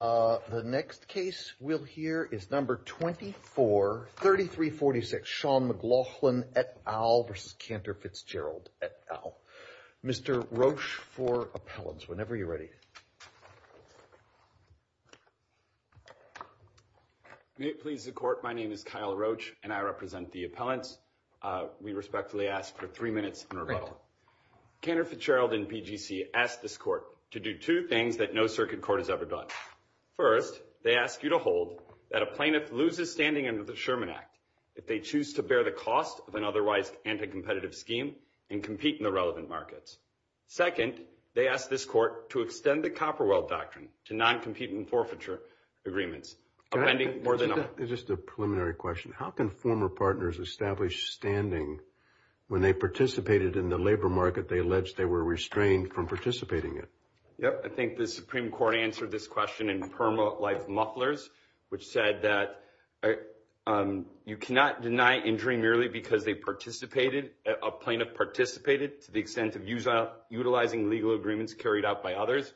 uh the next case we'll hear is number 24 33 46 sean mclaughlin et al versus cantor fitzgerald et al mr roach for appellants whenever you're ready may it please the court my name is kyle roach and i represent the appellants uh we respectfully ask for three minutes in rebuttal cantor fitzgerald and pgc asked this to do two things that no circuit court has ever done first they ask you to hold that a plaintiff loses standing under the sherman act if they choose to bear the cost of an otherwise anti-competitive scheme and compete in the relevant markets second they ask this court to extend the copperwell doctrine to non-competing forfeiture agreements offending more than just a preliminary question how can former partners establish standing when they participated in labor market they alleged they were restrained from participating in yep i think the supreme court answered this question in perma life mufflers which said that um you cannot deny injury merely because they participated a plaintiff participated to the extent of use utilizing legal agreements carried out by others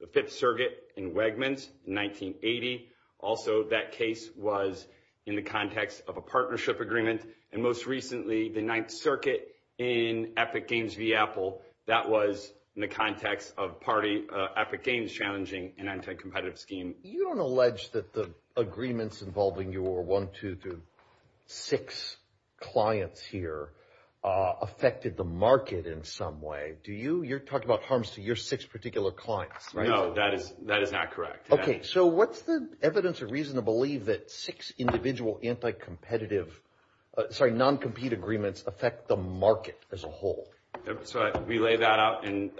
the fifth circuit in wegmans 1980 also that case was in the context of a partnership agreement and most recently the ninth circuit in epic games v apple that was in the context of party epic games challenging an anti-competitive scheme you don't allege that the agreements involving your one two to six clients here uh affected the market in some way do you you're talking about harms to your six particular clients no that is that is not correct okay so what's the evidence or reason to believe that six individual anti-competitive sorry non-compete agreements affect the market as a whole so we lay that out and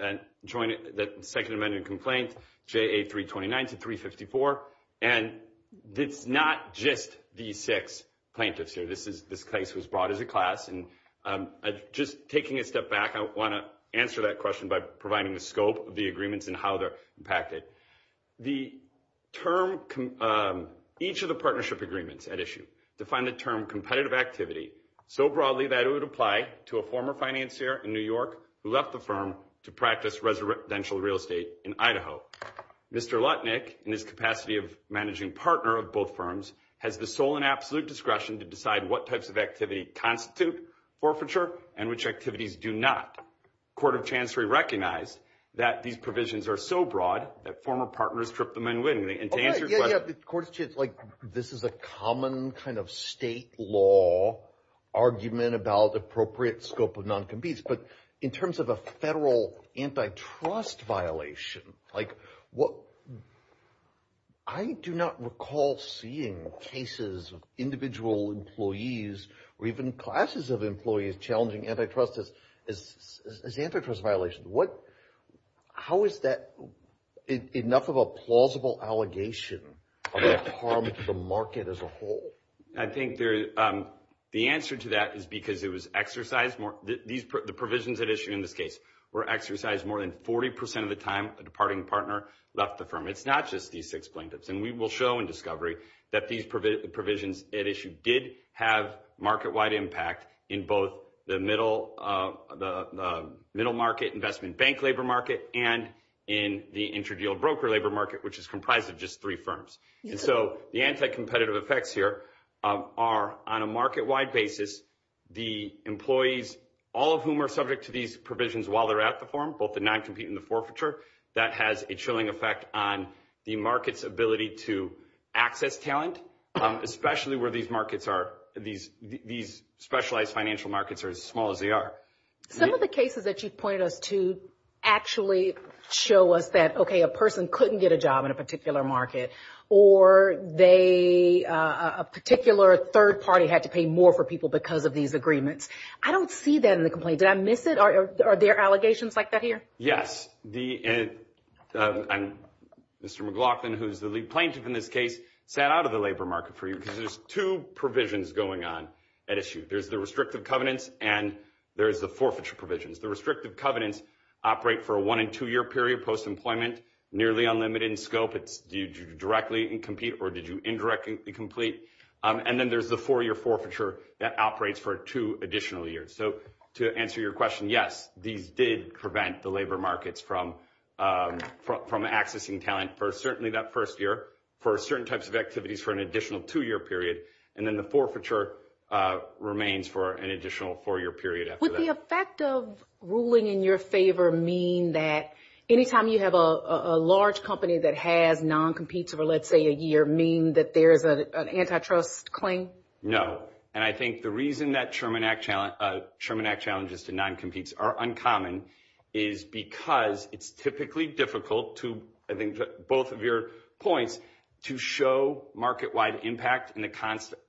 join it that second amendment complaint ja329 to 354 and it's not just these six plaintiffs here this is this case was brought as a class and um just taking a step back i want to answer that by providing the scope of the agreements and how they're impacted the term um each of the partnership agreements at issue define the term competitive activity so broadly that it would apply to a former financier in new york who left the firm to practice residential real estate in idaho mr lutnick in his capacity of managing partner of both firms has the sole and absolute discretion to decide what types of activity constitute forfeiture and which activities do not court of chancery recognized that these provisions are so broad that former partners trip them in winning and to answer the question like this is a common kind of state law argument about appropriate scope of non-competes but in terms of a federal antitrust violation like what i do not recall seeing cases of individual employees or even classes of employees challenging antitrust as as antitrust violations what how is that enough of a plausible allegation harm to the market as a whole i think there's um the answer to that is because it was exercised more these the provisions at issue in this case were exercised more than 40 percent of the time a departing partner left the firm it's not just these six plaintiffs and we will show in discovery that these provisions at issue did have market-wide impact in both the middle of the middle market investment bank labor market and in the interdeal broker labor market which is comprised of just three firms and so the anti-competitive effects here are on a market-wide basis the employees all of whom are subject to these provisions while they're at the forum both non-competing the forfeiture that has a chilling effect on the market's ability to access talent especially where these markets are these these specialized financial markets are as small as they are some of the cases that you've pointed us to actually show us that okay a person couldn't get a job in a particular market or they a particular third party had to pay more for people because of these agreements i don't see that in the complaint did i miss it are there allegations like that here yes the uh i'm mr mclaughlin who's the lead plaintiff in this case sat out of the labor market for you because there's two provisions going on at issue there's the restrictive covenants and there's the forfeiture provisions the restrictive covenants operate for a one and two year period post-employment nearly unlimited in scope it's do you directly and compete or did you indirectly complete um and then there's the four-year forfeiture that operates for two additional years so to answer your question yes these did prevent the labor markets from um from accessing talent for certainly that first year for certain types of activities for an additional two-year period and then the forfeiture uh remains for an additional four-year period would the effect of ruling in your favor mean that anytime you have a a large company that has non-competes over let's say a year mean that there's an antitrust claim no and i think the reason that chairman act challenge uh chairman act challenges to non-competes are uncommon is because it's typically difficult to i think both of your points to show market-wide impact in the constant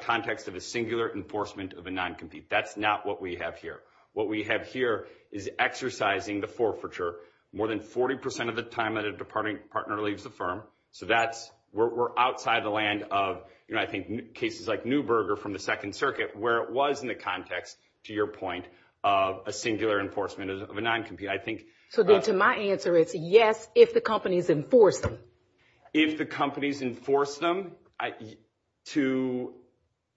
context of a singular enforcement of a non-compete that's not what we have here what we have here is exercising the forfeiture more than 40 percent of the time that a departing partner leaves the firm so that's we're outside the land of you know i think cases like newberger from the second circuit where it was in the context to your point of a singular enforcement of a non-compete i think so then to my answer is yes if the companies enforce them if the companies enforce them i to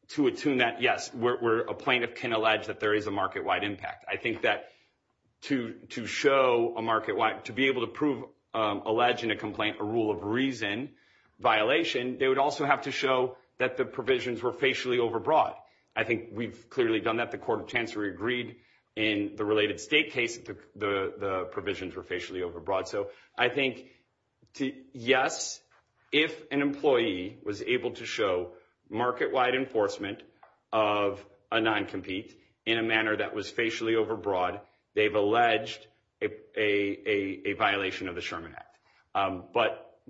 to attune that yes where a plaintiff can allege that there is a market-wide impact i think that to to show a market wide to be able to prove um allege in a complaint a rule of reason violation they would also have to show that the provisions were facially overbroad i think we've clearly done that the court of chancery agreed in the related state case the the provisions were facially overbroad so i think yes if an employee was able to show market-wide enforcement of a non-compete in a manner that was facially overbroad they've alleged a a a violation of the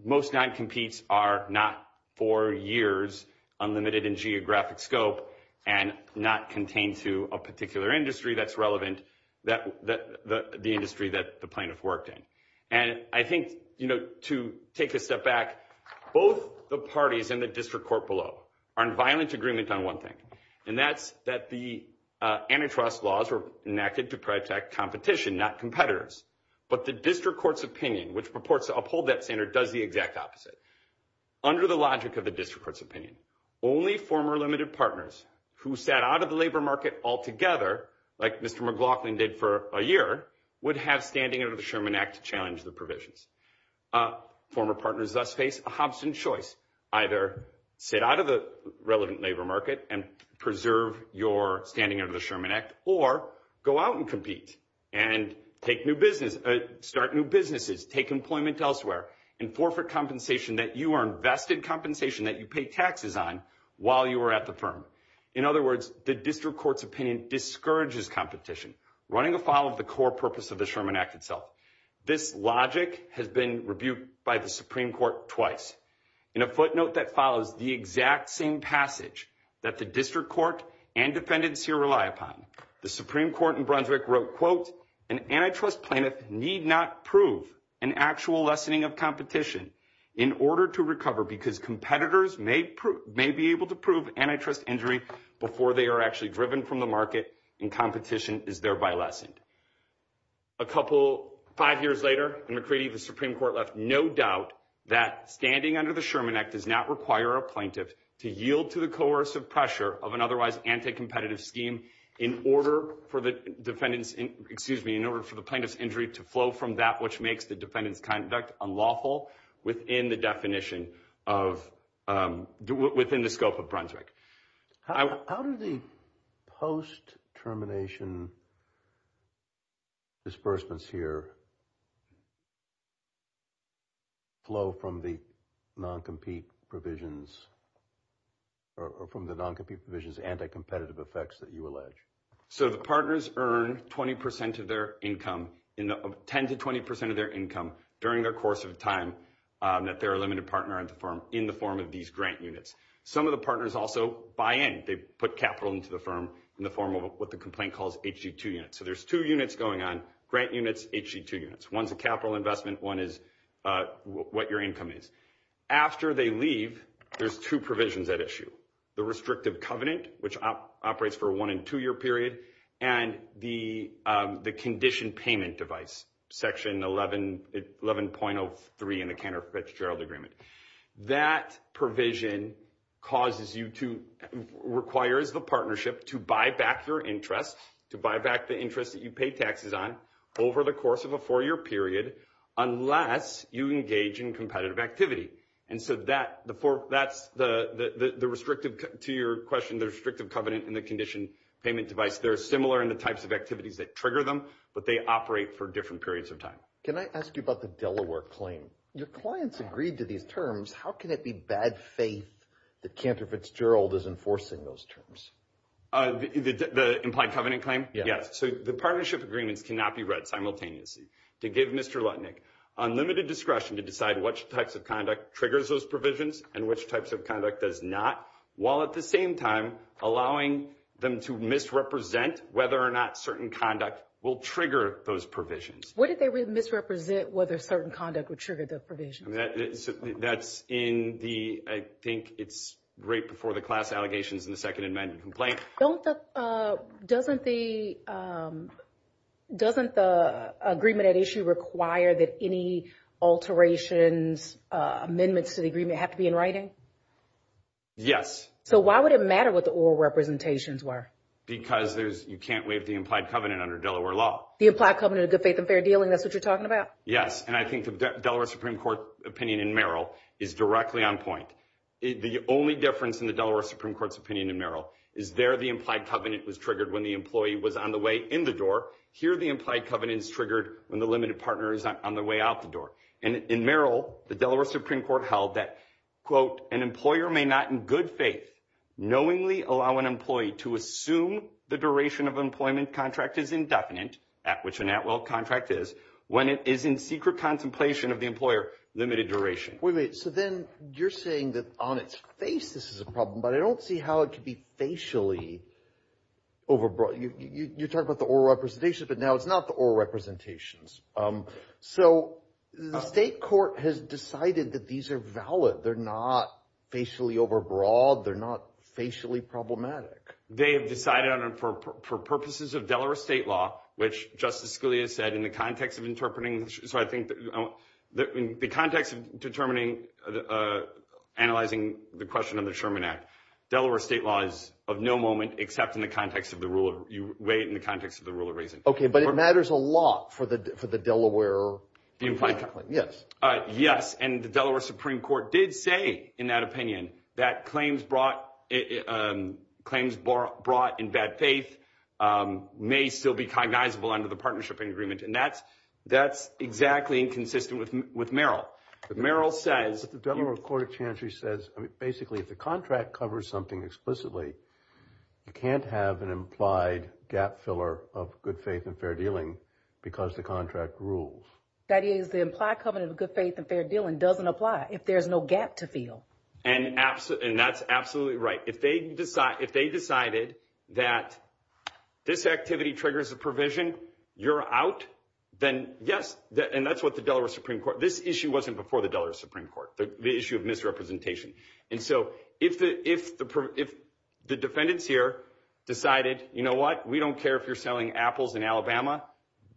most non-competes are not for years unlimited in geographic scope and not contained to a particular industry that's relevant that the the industry that the plaintiff worked in and i think you know to take a step back both the parties in the district court below are in violent agreement on one thing and that's that the uh antitrust laws were enacted to protect competition not but the district court's opinion which purports to uphold that standard does the exact opposite under the logic of the district court's opinion only former limited partners who sat out of the labor market altogether like mr mclaughlin did for a year would have standing under the sherman act to challenge the provisions uh former partners thus face a hobson choice either sit out of the relevant labor market and preserve your standing under the sherman act or go out and take new business start new businesses take employment elsewhere and forfeit compensation that you are invested compensation that you pay taxes on while you are at the firm in other words the district court's opinion discourages competition running afoul of the core purpose of the sherman act itself this logic has been rebuked by the supreme court twice in a footnote that follows the exact same passage that the district court and defendants here rely upon the supreme court in brunswick wrote quote an antitrust plaintiff need not prove an actual lessening of competition in order to recover because competitors may prove may be able to prove antitrust injury before they are actually driven from the market and competition is thereby lessened a couple five years later and mccready the supreme court left no doubt that standing under the sherman act does not require a plaintiff to yield to the coercive pressure of an otherwise anti-competitive scheme in order for the defendants excuse me in order for the plaintiff's injury to flow from that which makes the defendant's conduct unlawful within the definition of um within the scope of brunswick how do the post termination disbursements here uh flow from the non-compete provisions or from the non-compete provisions anti-competitive effects that you allege so the partners earn 20 of their income in 10 to 20 of their income during their course of time um that they're a limited partner at the firm in the form of these grant units some of the partners also buy in they put capital into the firm in the form of what the complaint calls hg2 units so there's two units going on grant units hg2 units one's a capital investment one is uh what your income is after they leave there's two provisions at issue the restrictive covenant which operates for one and two year period and the um the condition payment device section 11 11.03 in the counterfeit gerald agreement that provision causes you to requires the partnership to buy back your interest to buy back the interest that you pay taxes on over the course of a four-year period unless you engage in competitive activity and so that the four that's the the the restrictive to your question the restrictive covenant and the condition payment device they're similar in the types of activities that trigger them but they operate for different periods of time can i ask you about the delaware claim your clients agreed to these terms how can it be bad faith that counterfeits gerald is enforcing those terms uh the the implied covenant claim yes so the partnership agreements cannot be read simultaneously to give mr lutnick unlimited discretion to decide which types of conduct triggers those provisions and which types of conduct does not while at the same time allowing them to misrepresent whether or not certain conduct will trigger those provisions what did they misrepresent whether certain conduct would trigger the provisions that that's in the i think it's right before the class allegations in the second amendment complaint don't uh doesn't the um doesn't the agreement at issue require that any alterations uh amendments to the agreement have to be in writing yes so why would it matter what the oral representations were because there's you can't waive the implied covenant under delaware law the implied covenant of good faith and fair dealing that's what you're talking about yes and i think the delaware supreme court opinion in merrill is directly on point the only difference in the delaware supreme court's opinion in merrill is there the implied covenant was triggered when the employee was on the way in the door here the implied covenant is triggered when the limited partner is on the way out the door and in merrill the delaware supreme court held that quote an employer may not in good faith knowingly allow an employee to assume the duration of employment contract is indefinite at which an contract is when it is in secret contemplation of the employer limited duration wait so then you're saying that on its face this is a problem but i don't see how it could be facially overbroad you you're talking about the oral representation but now it's not the oral representations um so the state court has decided that these are valid they're not facially overbroad they're not facially problematic they have decided on for purposes of delaware state law which justice scalia said in the context of interpreting so i think that in the context of determining uh analyzing the question of the sherman act delaware state law is of no moment except in the context of the rule of you weigh it in the context of the rule of reason okay but it matters a lot for the for the delaware yes uh yes and the delaware supreme court did say in that opinion that claims brought um claims brought in bad faith um may still be cognizable under the partnership agreement and that's that's exactly inconsistent with with meryl meryl says the delaware court of chancery says i mean basically if the contract covers something explicitly you can't have an implied gap filler of good faith and fair dealing because the contract rules that is the implied covenant of good faith and fair dealing doesn't apply if there's no gap to feel and absolutely and that's absolutely right if they decide if they decided that this activity triggers the provision you're out then yes and that's what the delaware supreme court this issue wasn't before the delaware supreme court the issue of misrepresentation and so if the if the if the defendants here decided you know what we don't care if you're selling apples in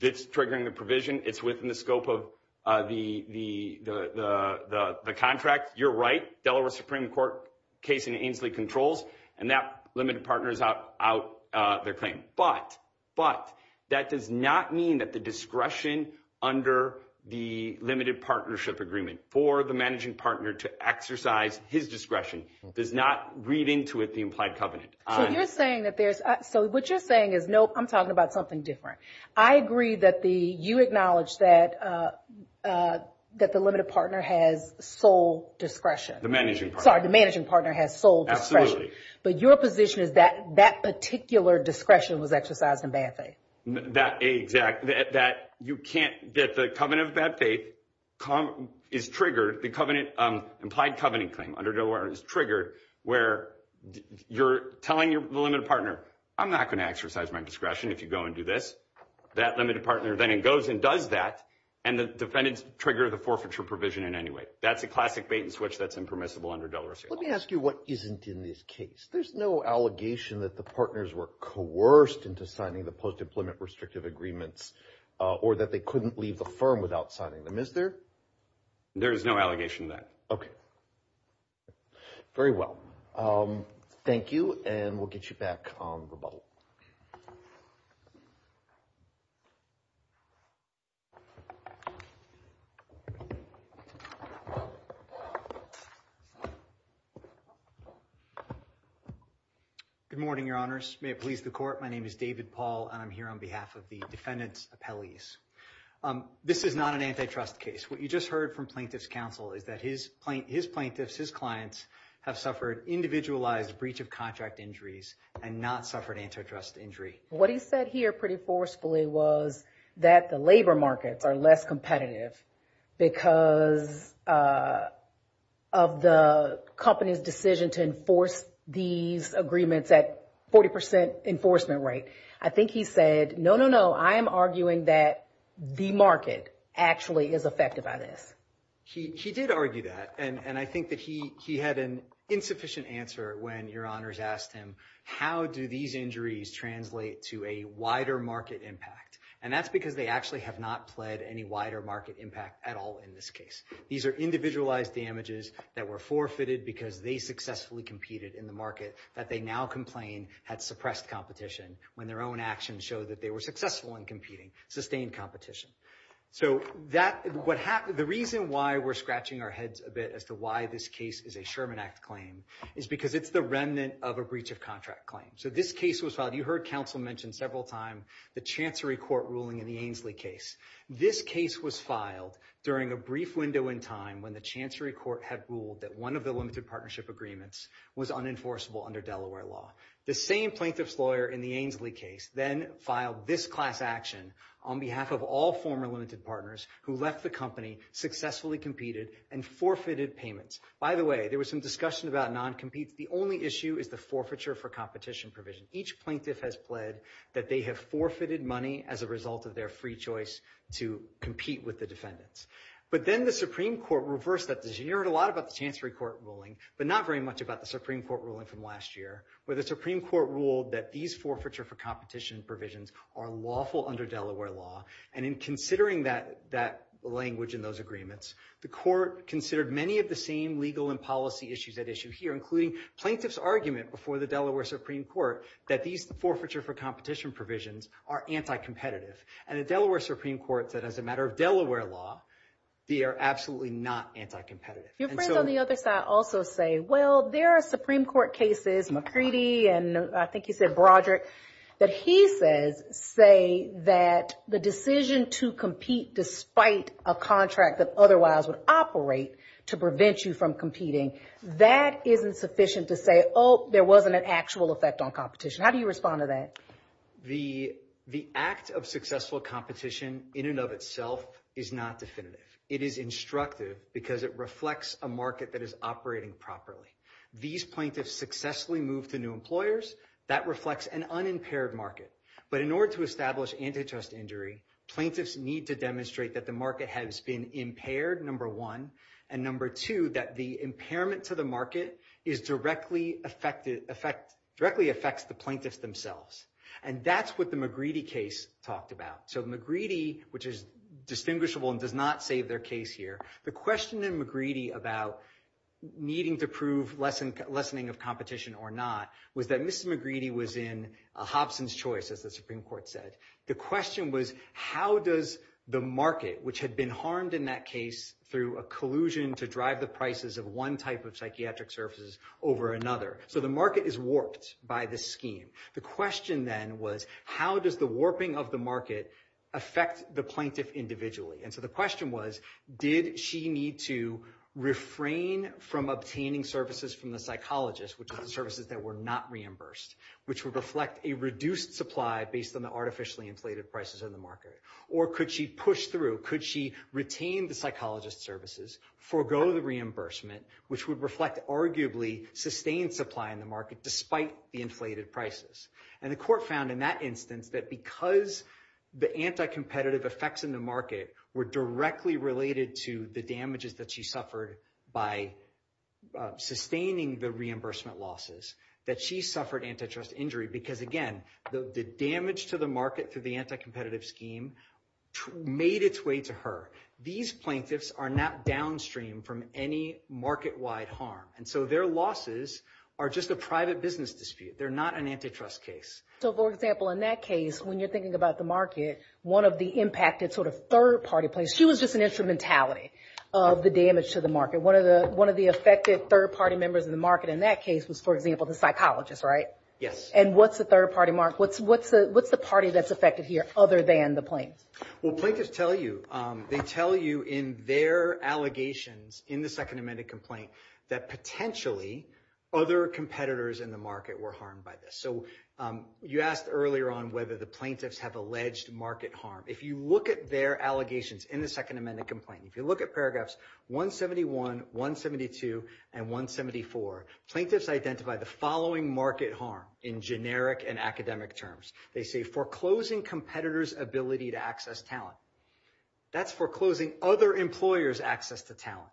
it's triggering the provision it's within the scope of uh the the the the the the contract you're right delaware supreme court case in ainsley controls and that limited partners out out uh their claim but but that does not mean that the discretion under the limited partnership agreement for the managing partner to exercise his discretion does not read into it the implied covenant so you're saying that there's so what you're saying is nope i'm talking about something different i agree that the you acknowledge that uh uh that the limited partner has sole discretion the managing sorry the managing partner has sold absolutely but your position is that that particular discretion was exercised in bad faith that a exact that you can't get the covenant of bad faith come is triggered the covenant um implied covenant claim under nowhere is triggered where you're telling your limited partner i'm not going to exercise my discretion if you go and do this that limited partner then it goes and does that and the defendants trigger the forfeiture provision in any way that's a classic bait and switch that's impermissible under delaware let me ask you what isn't in this case there's no allegation that the partners were coerced into signing the post-employment restrictive agreements uh or that they couldn't leave the firm without signing them is there there is no allegation that okay very well um thank you and we'll get you back on the bubble good morning your honors may it please the court my name is david paul and i'm here on behalf of the defendant's appellees um this is not an antitrust case what you just heard from plaintiff's counsel is that his plaint his plaintiffs his clients have suffered individualized breach of contract injuries and not suffered antitrust injury what he said here pretty forcefully was that the labor markets are less competitive because uh of the company's decision to enforce these agreements at 40 enforcement right i think he said no no i am arguing that the market actually is affected by this he he did argue that and and i think that he he had an insufficient answer when your honors asked him how do these injuries translate to a wider market impact and that's because they actually have not pled any wider market impact at all in this case these are individualized damages that were forfeited because they successfully competed in the market that they now complain had suppressed competition when their own actions show that they were successful in competing sustained competition so that what happened the reason why we're scratching our heads a bit as to why this case is a sherman act claim is because it's the remnant of a breach of contract claim so this case was filed you heard counsel mentioned several time the chancery court ruling in the ainsley case this case was filed during a brief window in time when the chancery court had ruled that one of the limited partnership agreements was unenforceable under delaware law the same plaintiff's lawyer in the ainsley case then filed this class action on behalf of all and forfeited payments by the way there was some discussion about non-competes the only issue is the forfeiture for competition provision each plaintiff has pled that they have forfeited money as a result of their free choice to compete with the defendants but then the supreme court reversed that decision you heard a lot about the chancery court ruling but not very much about the supreme court ruling from last year where the supreme court ruled that these forfeiture for competition provisions are lawful under delaware law and in considering that that language in those agreements the court considered many of the same legal and policy issues at issue here including plaintiff's argument before the delaware supreme court that these forfeiture for competition provisions are anti-competitive and the delaware supreme court said as a matter of delaware law they are absolutely not anti-competitive your friends on the other side also say well there are supreme court cases mccready and i think you said broderick that he says say that the decision to compete despite a contract that otherwise would operate to prevent you from competing that isn't sufficient to say oh there wasn't an actual effect on competition how do you respond to that the the act of successful competition in and of itself is not definitive it is instructive because it reflects a market that is operating properly these plaintiffs successfully move to new employers that reflects an unimpaired market but in order to establish antitrust injury plaintiffs need to demonstrate that the market has been impaired number one and number two that the impairment to the market is directly affected effect directly affects the plaintiffs themselves and that's what the mcgready case talked about so mcgready which is distinguishable and does not save their case here the question in mcgready about needing to prove lesson lessening of competition or not was that mcgready was in a hobson's choice as the supreme court said the question was how does the market which had been harmed in that case through a collusion to drive the prices of one type of psychiatric services over another so the market is warped by the scheme the question then was how does the warping of the market affect the plaintiff individually and so the question was did she need to refrain from obtaining services from the psychologist which are the services that were not reimbursed which would reflect a reduced supply based on the artificially inflated prices in the market or could she push through could she retain the psychologist services forego the reimbursement which would reflect arguably sustained supply in the market despite the inflated prices and the court found in that instance that because the anti-competitive effects in the market were directly related to the damages that she suffered by sustaining the reimbursement losses that she suffered antitrust injury because again the damage to the market through the anti-competitive scheme made its way to her these plaintiffs are not downstream from any market-wide harm and so their losses are just a private business dispute they're not an antitrust case so for example in that case when you're thinking about the market one of the impacted sort of third-party place she was just an instrumentality of the damage to the market one of the one of the affected third-party members of the market in that case was for example the psychologist right yes and what's the third-party mark what's what's the what's the party that's affected here other than the plaintiffs well plaintiffs tell you they tell you in their allegations in the second amended complaint that potentially other competitors in the market were harmed by this so you asked earlier on whether the plaintiffs have alleged market harm if you at their allegations in the second amended complaint if you look at paragraphs 171 172 and 174 plaintiffs identify the following market harm in generic and academic terms they say foreclosing competitors ability to access talent that's foreclosing other employers access to talent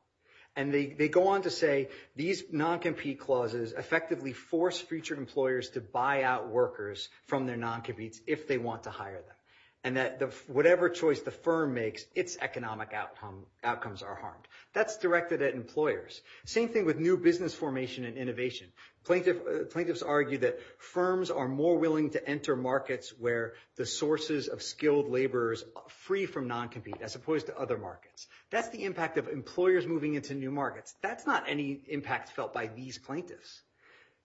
and they they go on to say these non-compete clauses effectively force future employers to out workers from their non-competes if they want to hire them and that the whatever choice the firm makes its economic outcome outcomes are harmed that's directed at employers same thing with new business formation and innovation plaintiff plaintiffs argue that firms are more willing to enter markets where the sources of skilled laborers free from non-compete as opposed to other markets that's the impact of employers moving into new markets that's not any impact felt by these plaintiffs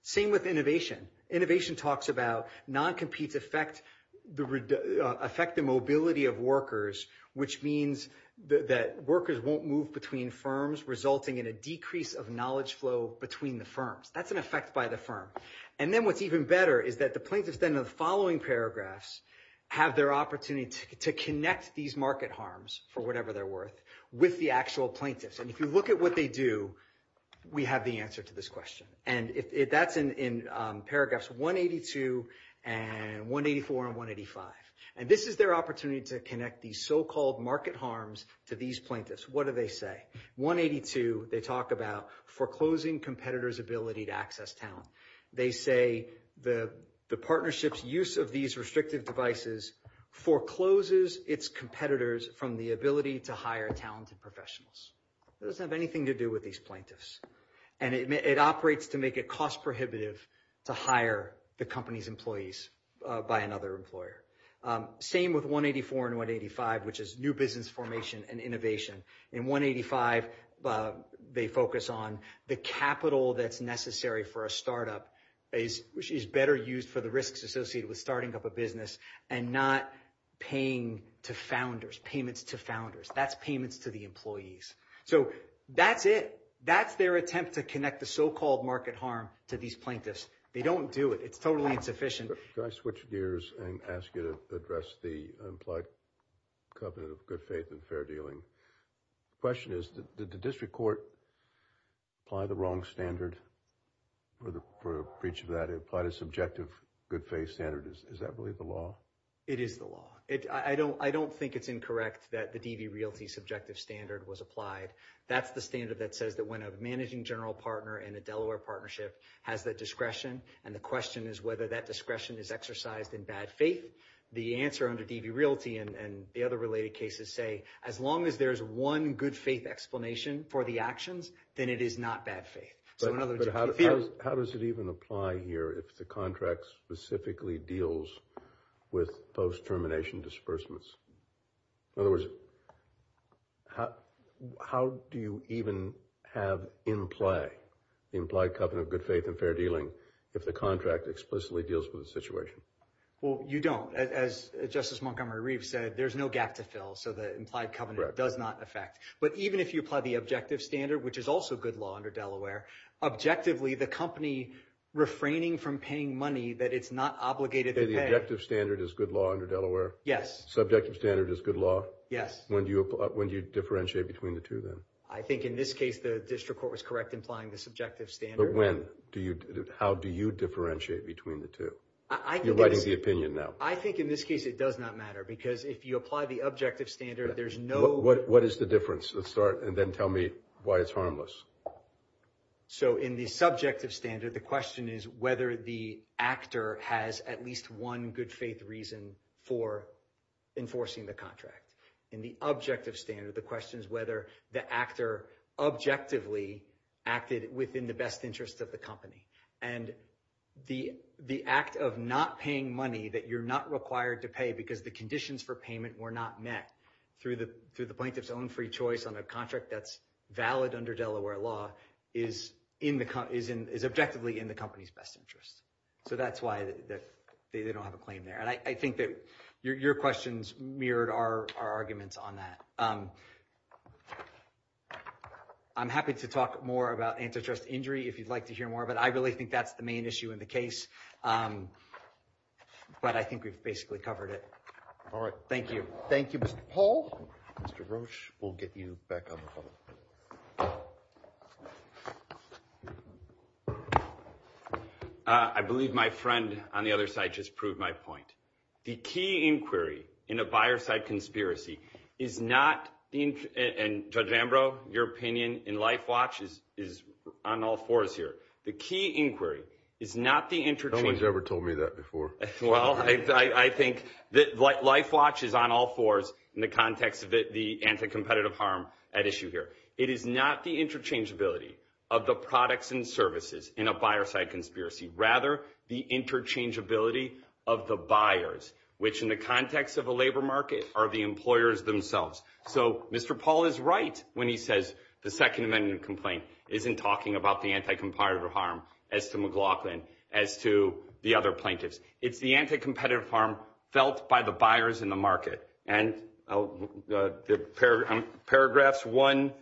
same with innovation innovation talks about non-competes affect the affect the mobility of workers which means that workers won't move between firms resulting in a decrease of knowledge flow between the firms that's an effect by the firm and then what's even better is that the plaintiffs then in the following paragraphs have their opportunity to connect these market harms for whatever they're worth with the actual plaintiffs and if you look at what they do we have the answer to this question and if that's in in paragraphs 182 and 184 and 185 and this is their opportunity to connect these so-called market harms to these plaintiffs what do they say 182 they talk about foreclosing competitors ability to access talent they say the the partnership's use of these restrictive devices forecloses its competitors from the ability to hire talented professionals it doesn't have anything to do with these plaintiffs and it operates to make it cost prohibitive to hire the company's employees by another employer same with 184 and 185 which is new business formation and innovation in 185 they focus on the capital that's necessary for a startup is which is better used for the risks associated with starting up a business and not paying to founders payments to founders that's payments to the employees so that's it that's their attempt to connect the so-called market harm to these plaintiffs they don't do it it's totally insufficient can i switch gears and ask you to address the implied covenant of good faith and fair dealing question is did the district court apply the wrong standard for the for each of that subjective good faith standard is is that really the law it is the law it i don't i don't think it's incorrect that the dv realty subjective standard was applied that's the standard that says that when a managing general partner in a delaware partnership has that discretion and the question is whether that discretion is exercised in bad faith the answer under dv realty and and the other related cases say as long as there's one good faith explanation for the actions then it is not bad faith so in other words how does it even apply here if the contract specifically deals with post-termination disbursements in other words how how do you even have in play the implied covenant of good faith and fair dealing if the contract explicitly deals with the situation well you don't as justice montgomery reeve said there's no gap to fill so the implied covenant does not affect but even if you apply the objective standard which is also good law under delaware objectively the company refraining from paying money that it's not obligated the objective standard is good law under delaware yes subjective standard is good law yes when do you when do you differentiate between the two then i think in this case the district court was correct implying the subjective standard when do you how do you differentiate between the two i think you're writing the opinion now i think in this case it does not matter because if you apply the objective standard there's no what what is the difference let's start and then tell me why it's harmless so in the subjective standard the question is whether the actor has at least one good faith reason for enforcing the contract in the objective standard the question is whether the actor objectively acted within the best interest of the company and the the act of not money that you're not required to pay because the conditions for payment were not met through the through the plaintiff's own free choice on a contract that's valid under delaware law is in the is in is objectively in the company's best interest so that's why they don't have a claim there and i think that your questions mirrored our our arguments on that um i'm happy to talk more about antitrust injury if you'd like to hear more but i really think that's the main issue in the case um but i think we've basically covered it all right thank you thank you mr paul mr roach we'll get you back on the phone uh i believe my friend on the other side just proved my point the key inquiry in a buyer side conspiracy is not the and judge ambrose your opinion in life watch is is on all fours here the key inquiry is not the entertainer's ever told me that before well i i think that life watch is on all fours in the context of the anti-competitive harm at issue here it is not the interchangeability of the products and services in a buyer side conspiracy rather the interchangeability of the buyers which in the context of a labor market are the employers themselves so mr paul is right when he says the second amendment complaint isn't talking about the anti-competitive harm as to mclaughlin as to the other plaintiffs it's the anti-competitive harm felt by the buyers in the market and the paragraphs one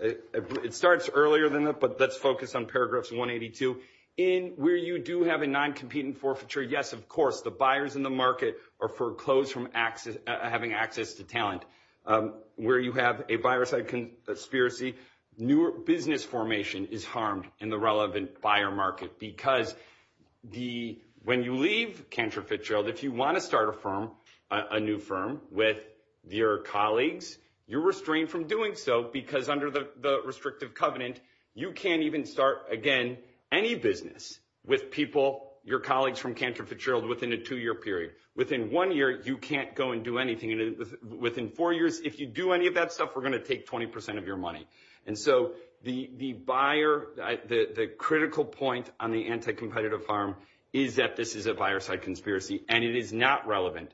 it starts earlier than that but let's focus on paragraphs 182 in where you do have a non-competent forfeiture yes of course the buyers in the market are foreclosed from access having access to talent um where you have a buyer side conspiracy newer business formation is harmed in the relevant buyer market because the when you leave canterfield if you want to start a firm a new firm with your colleagues you're restrained from doing so because under the the restrictive covenant you can't even start again any business with people your colleagues from canterfield within a two-year period within one year you can't go and do anything within four years if you do any of that stuff we're going to take 20 of your money and so the the buyer the the critical point on the anti-competitive harm is that this is a buyer side conspiracy and it is not relevant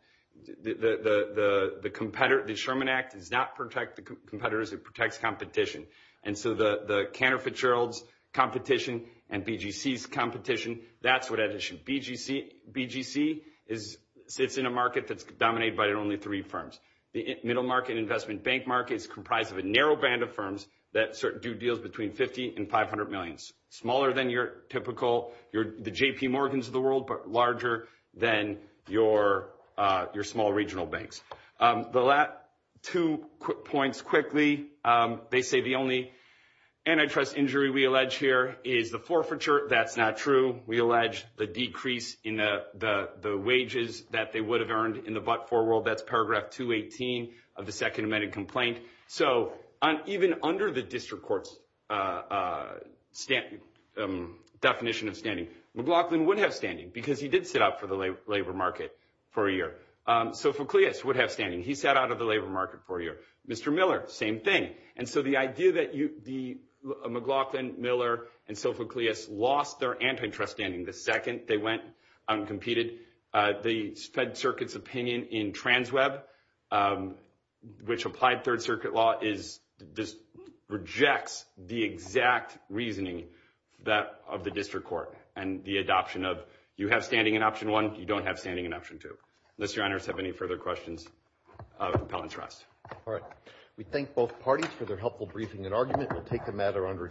the the the the competitor the act does not protect the competitors it protects competition and so the the canterfield's competition and bgc's competition that's what that issue bgc bgc is sits in a market that's dominated by only three firms the middle market investment bank market is comprised of a narrow band of firms that do deals between 50 and 500 millions smaller than your typical your the jp world but larger than your uh your small regional banks um the last two quick points quickly um they say the only antitrust injury we allege here is the forfeiture that's not true we allege the decrease in the the the wages that they would have earned in the but for world that's paragraph 218 of the second amended complaint so on even under the district court's uh uh stamp um definition of mclaughlin would have standing because he did sit up for the labor market for a year um sophocleus would have standing he sat out of the labor market for a year mr miller same thing and so the idea that you the mclaughlin miller and sophocleus lost their antitrust standing the second they went uncompeted uh the fed circuit's opinion in trans web um which applied third circuit law is this rejects the exact reasoning that of the district court and the adoption of you have standing in option one you don't have standing in option two unless your honors have any further questions of compellent trust all right we thank both parties for their helpful briefing and argument we'll take the matter under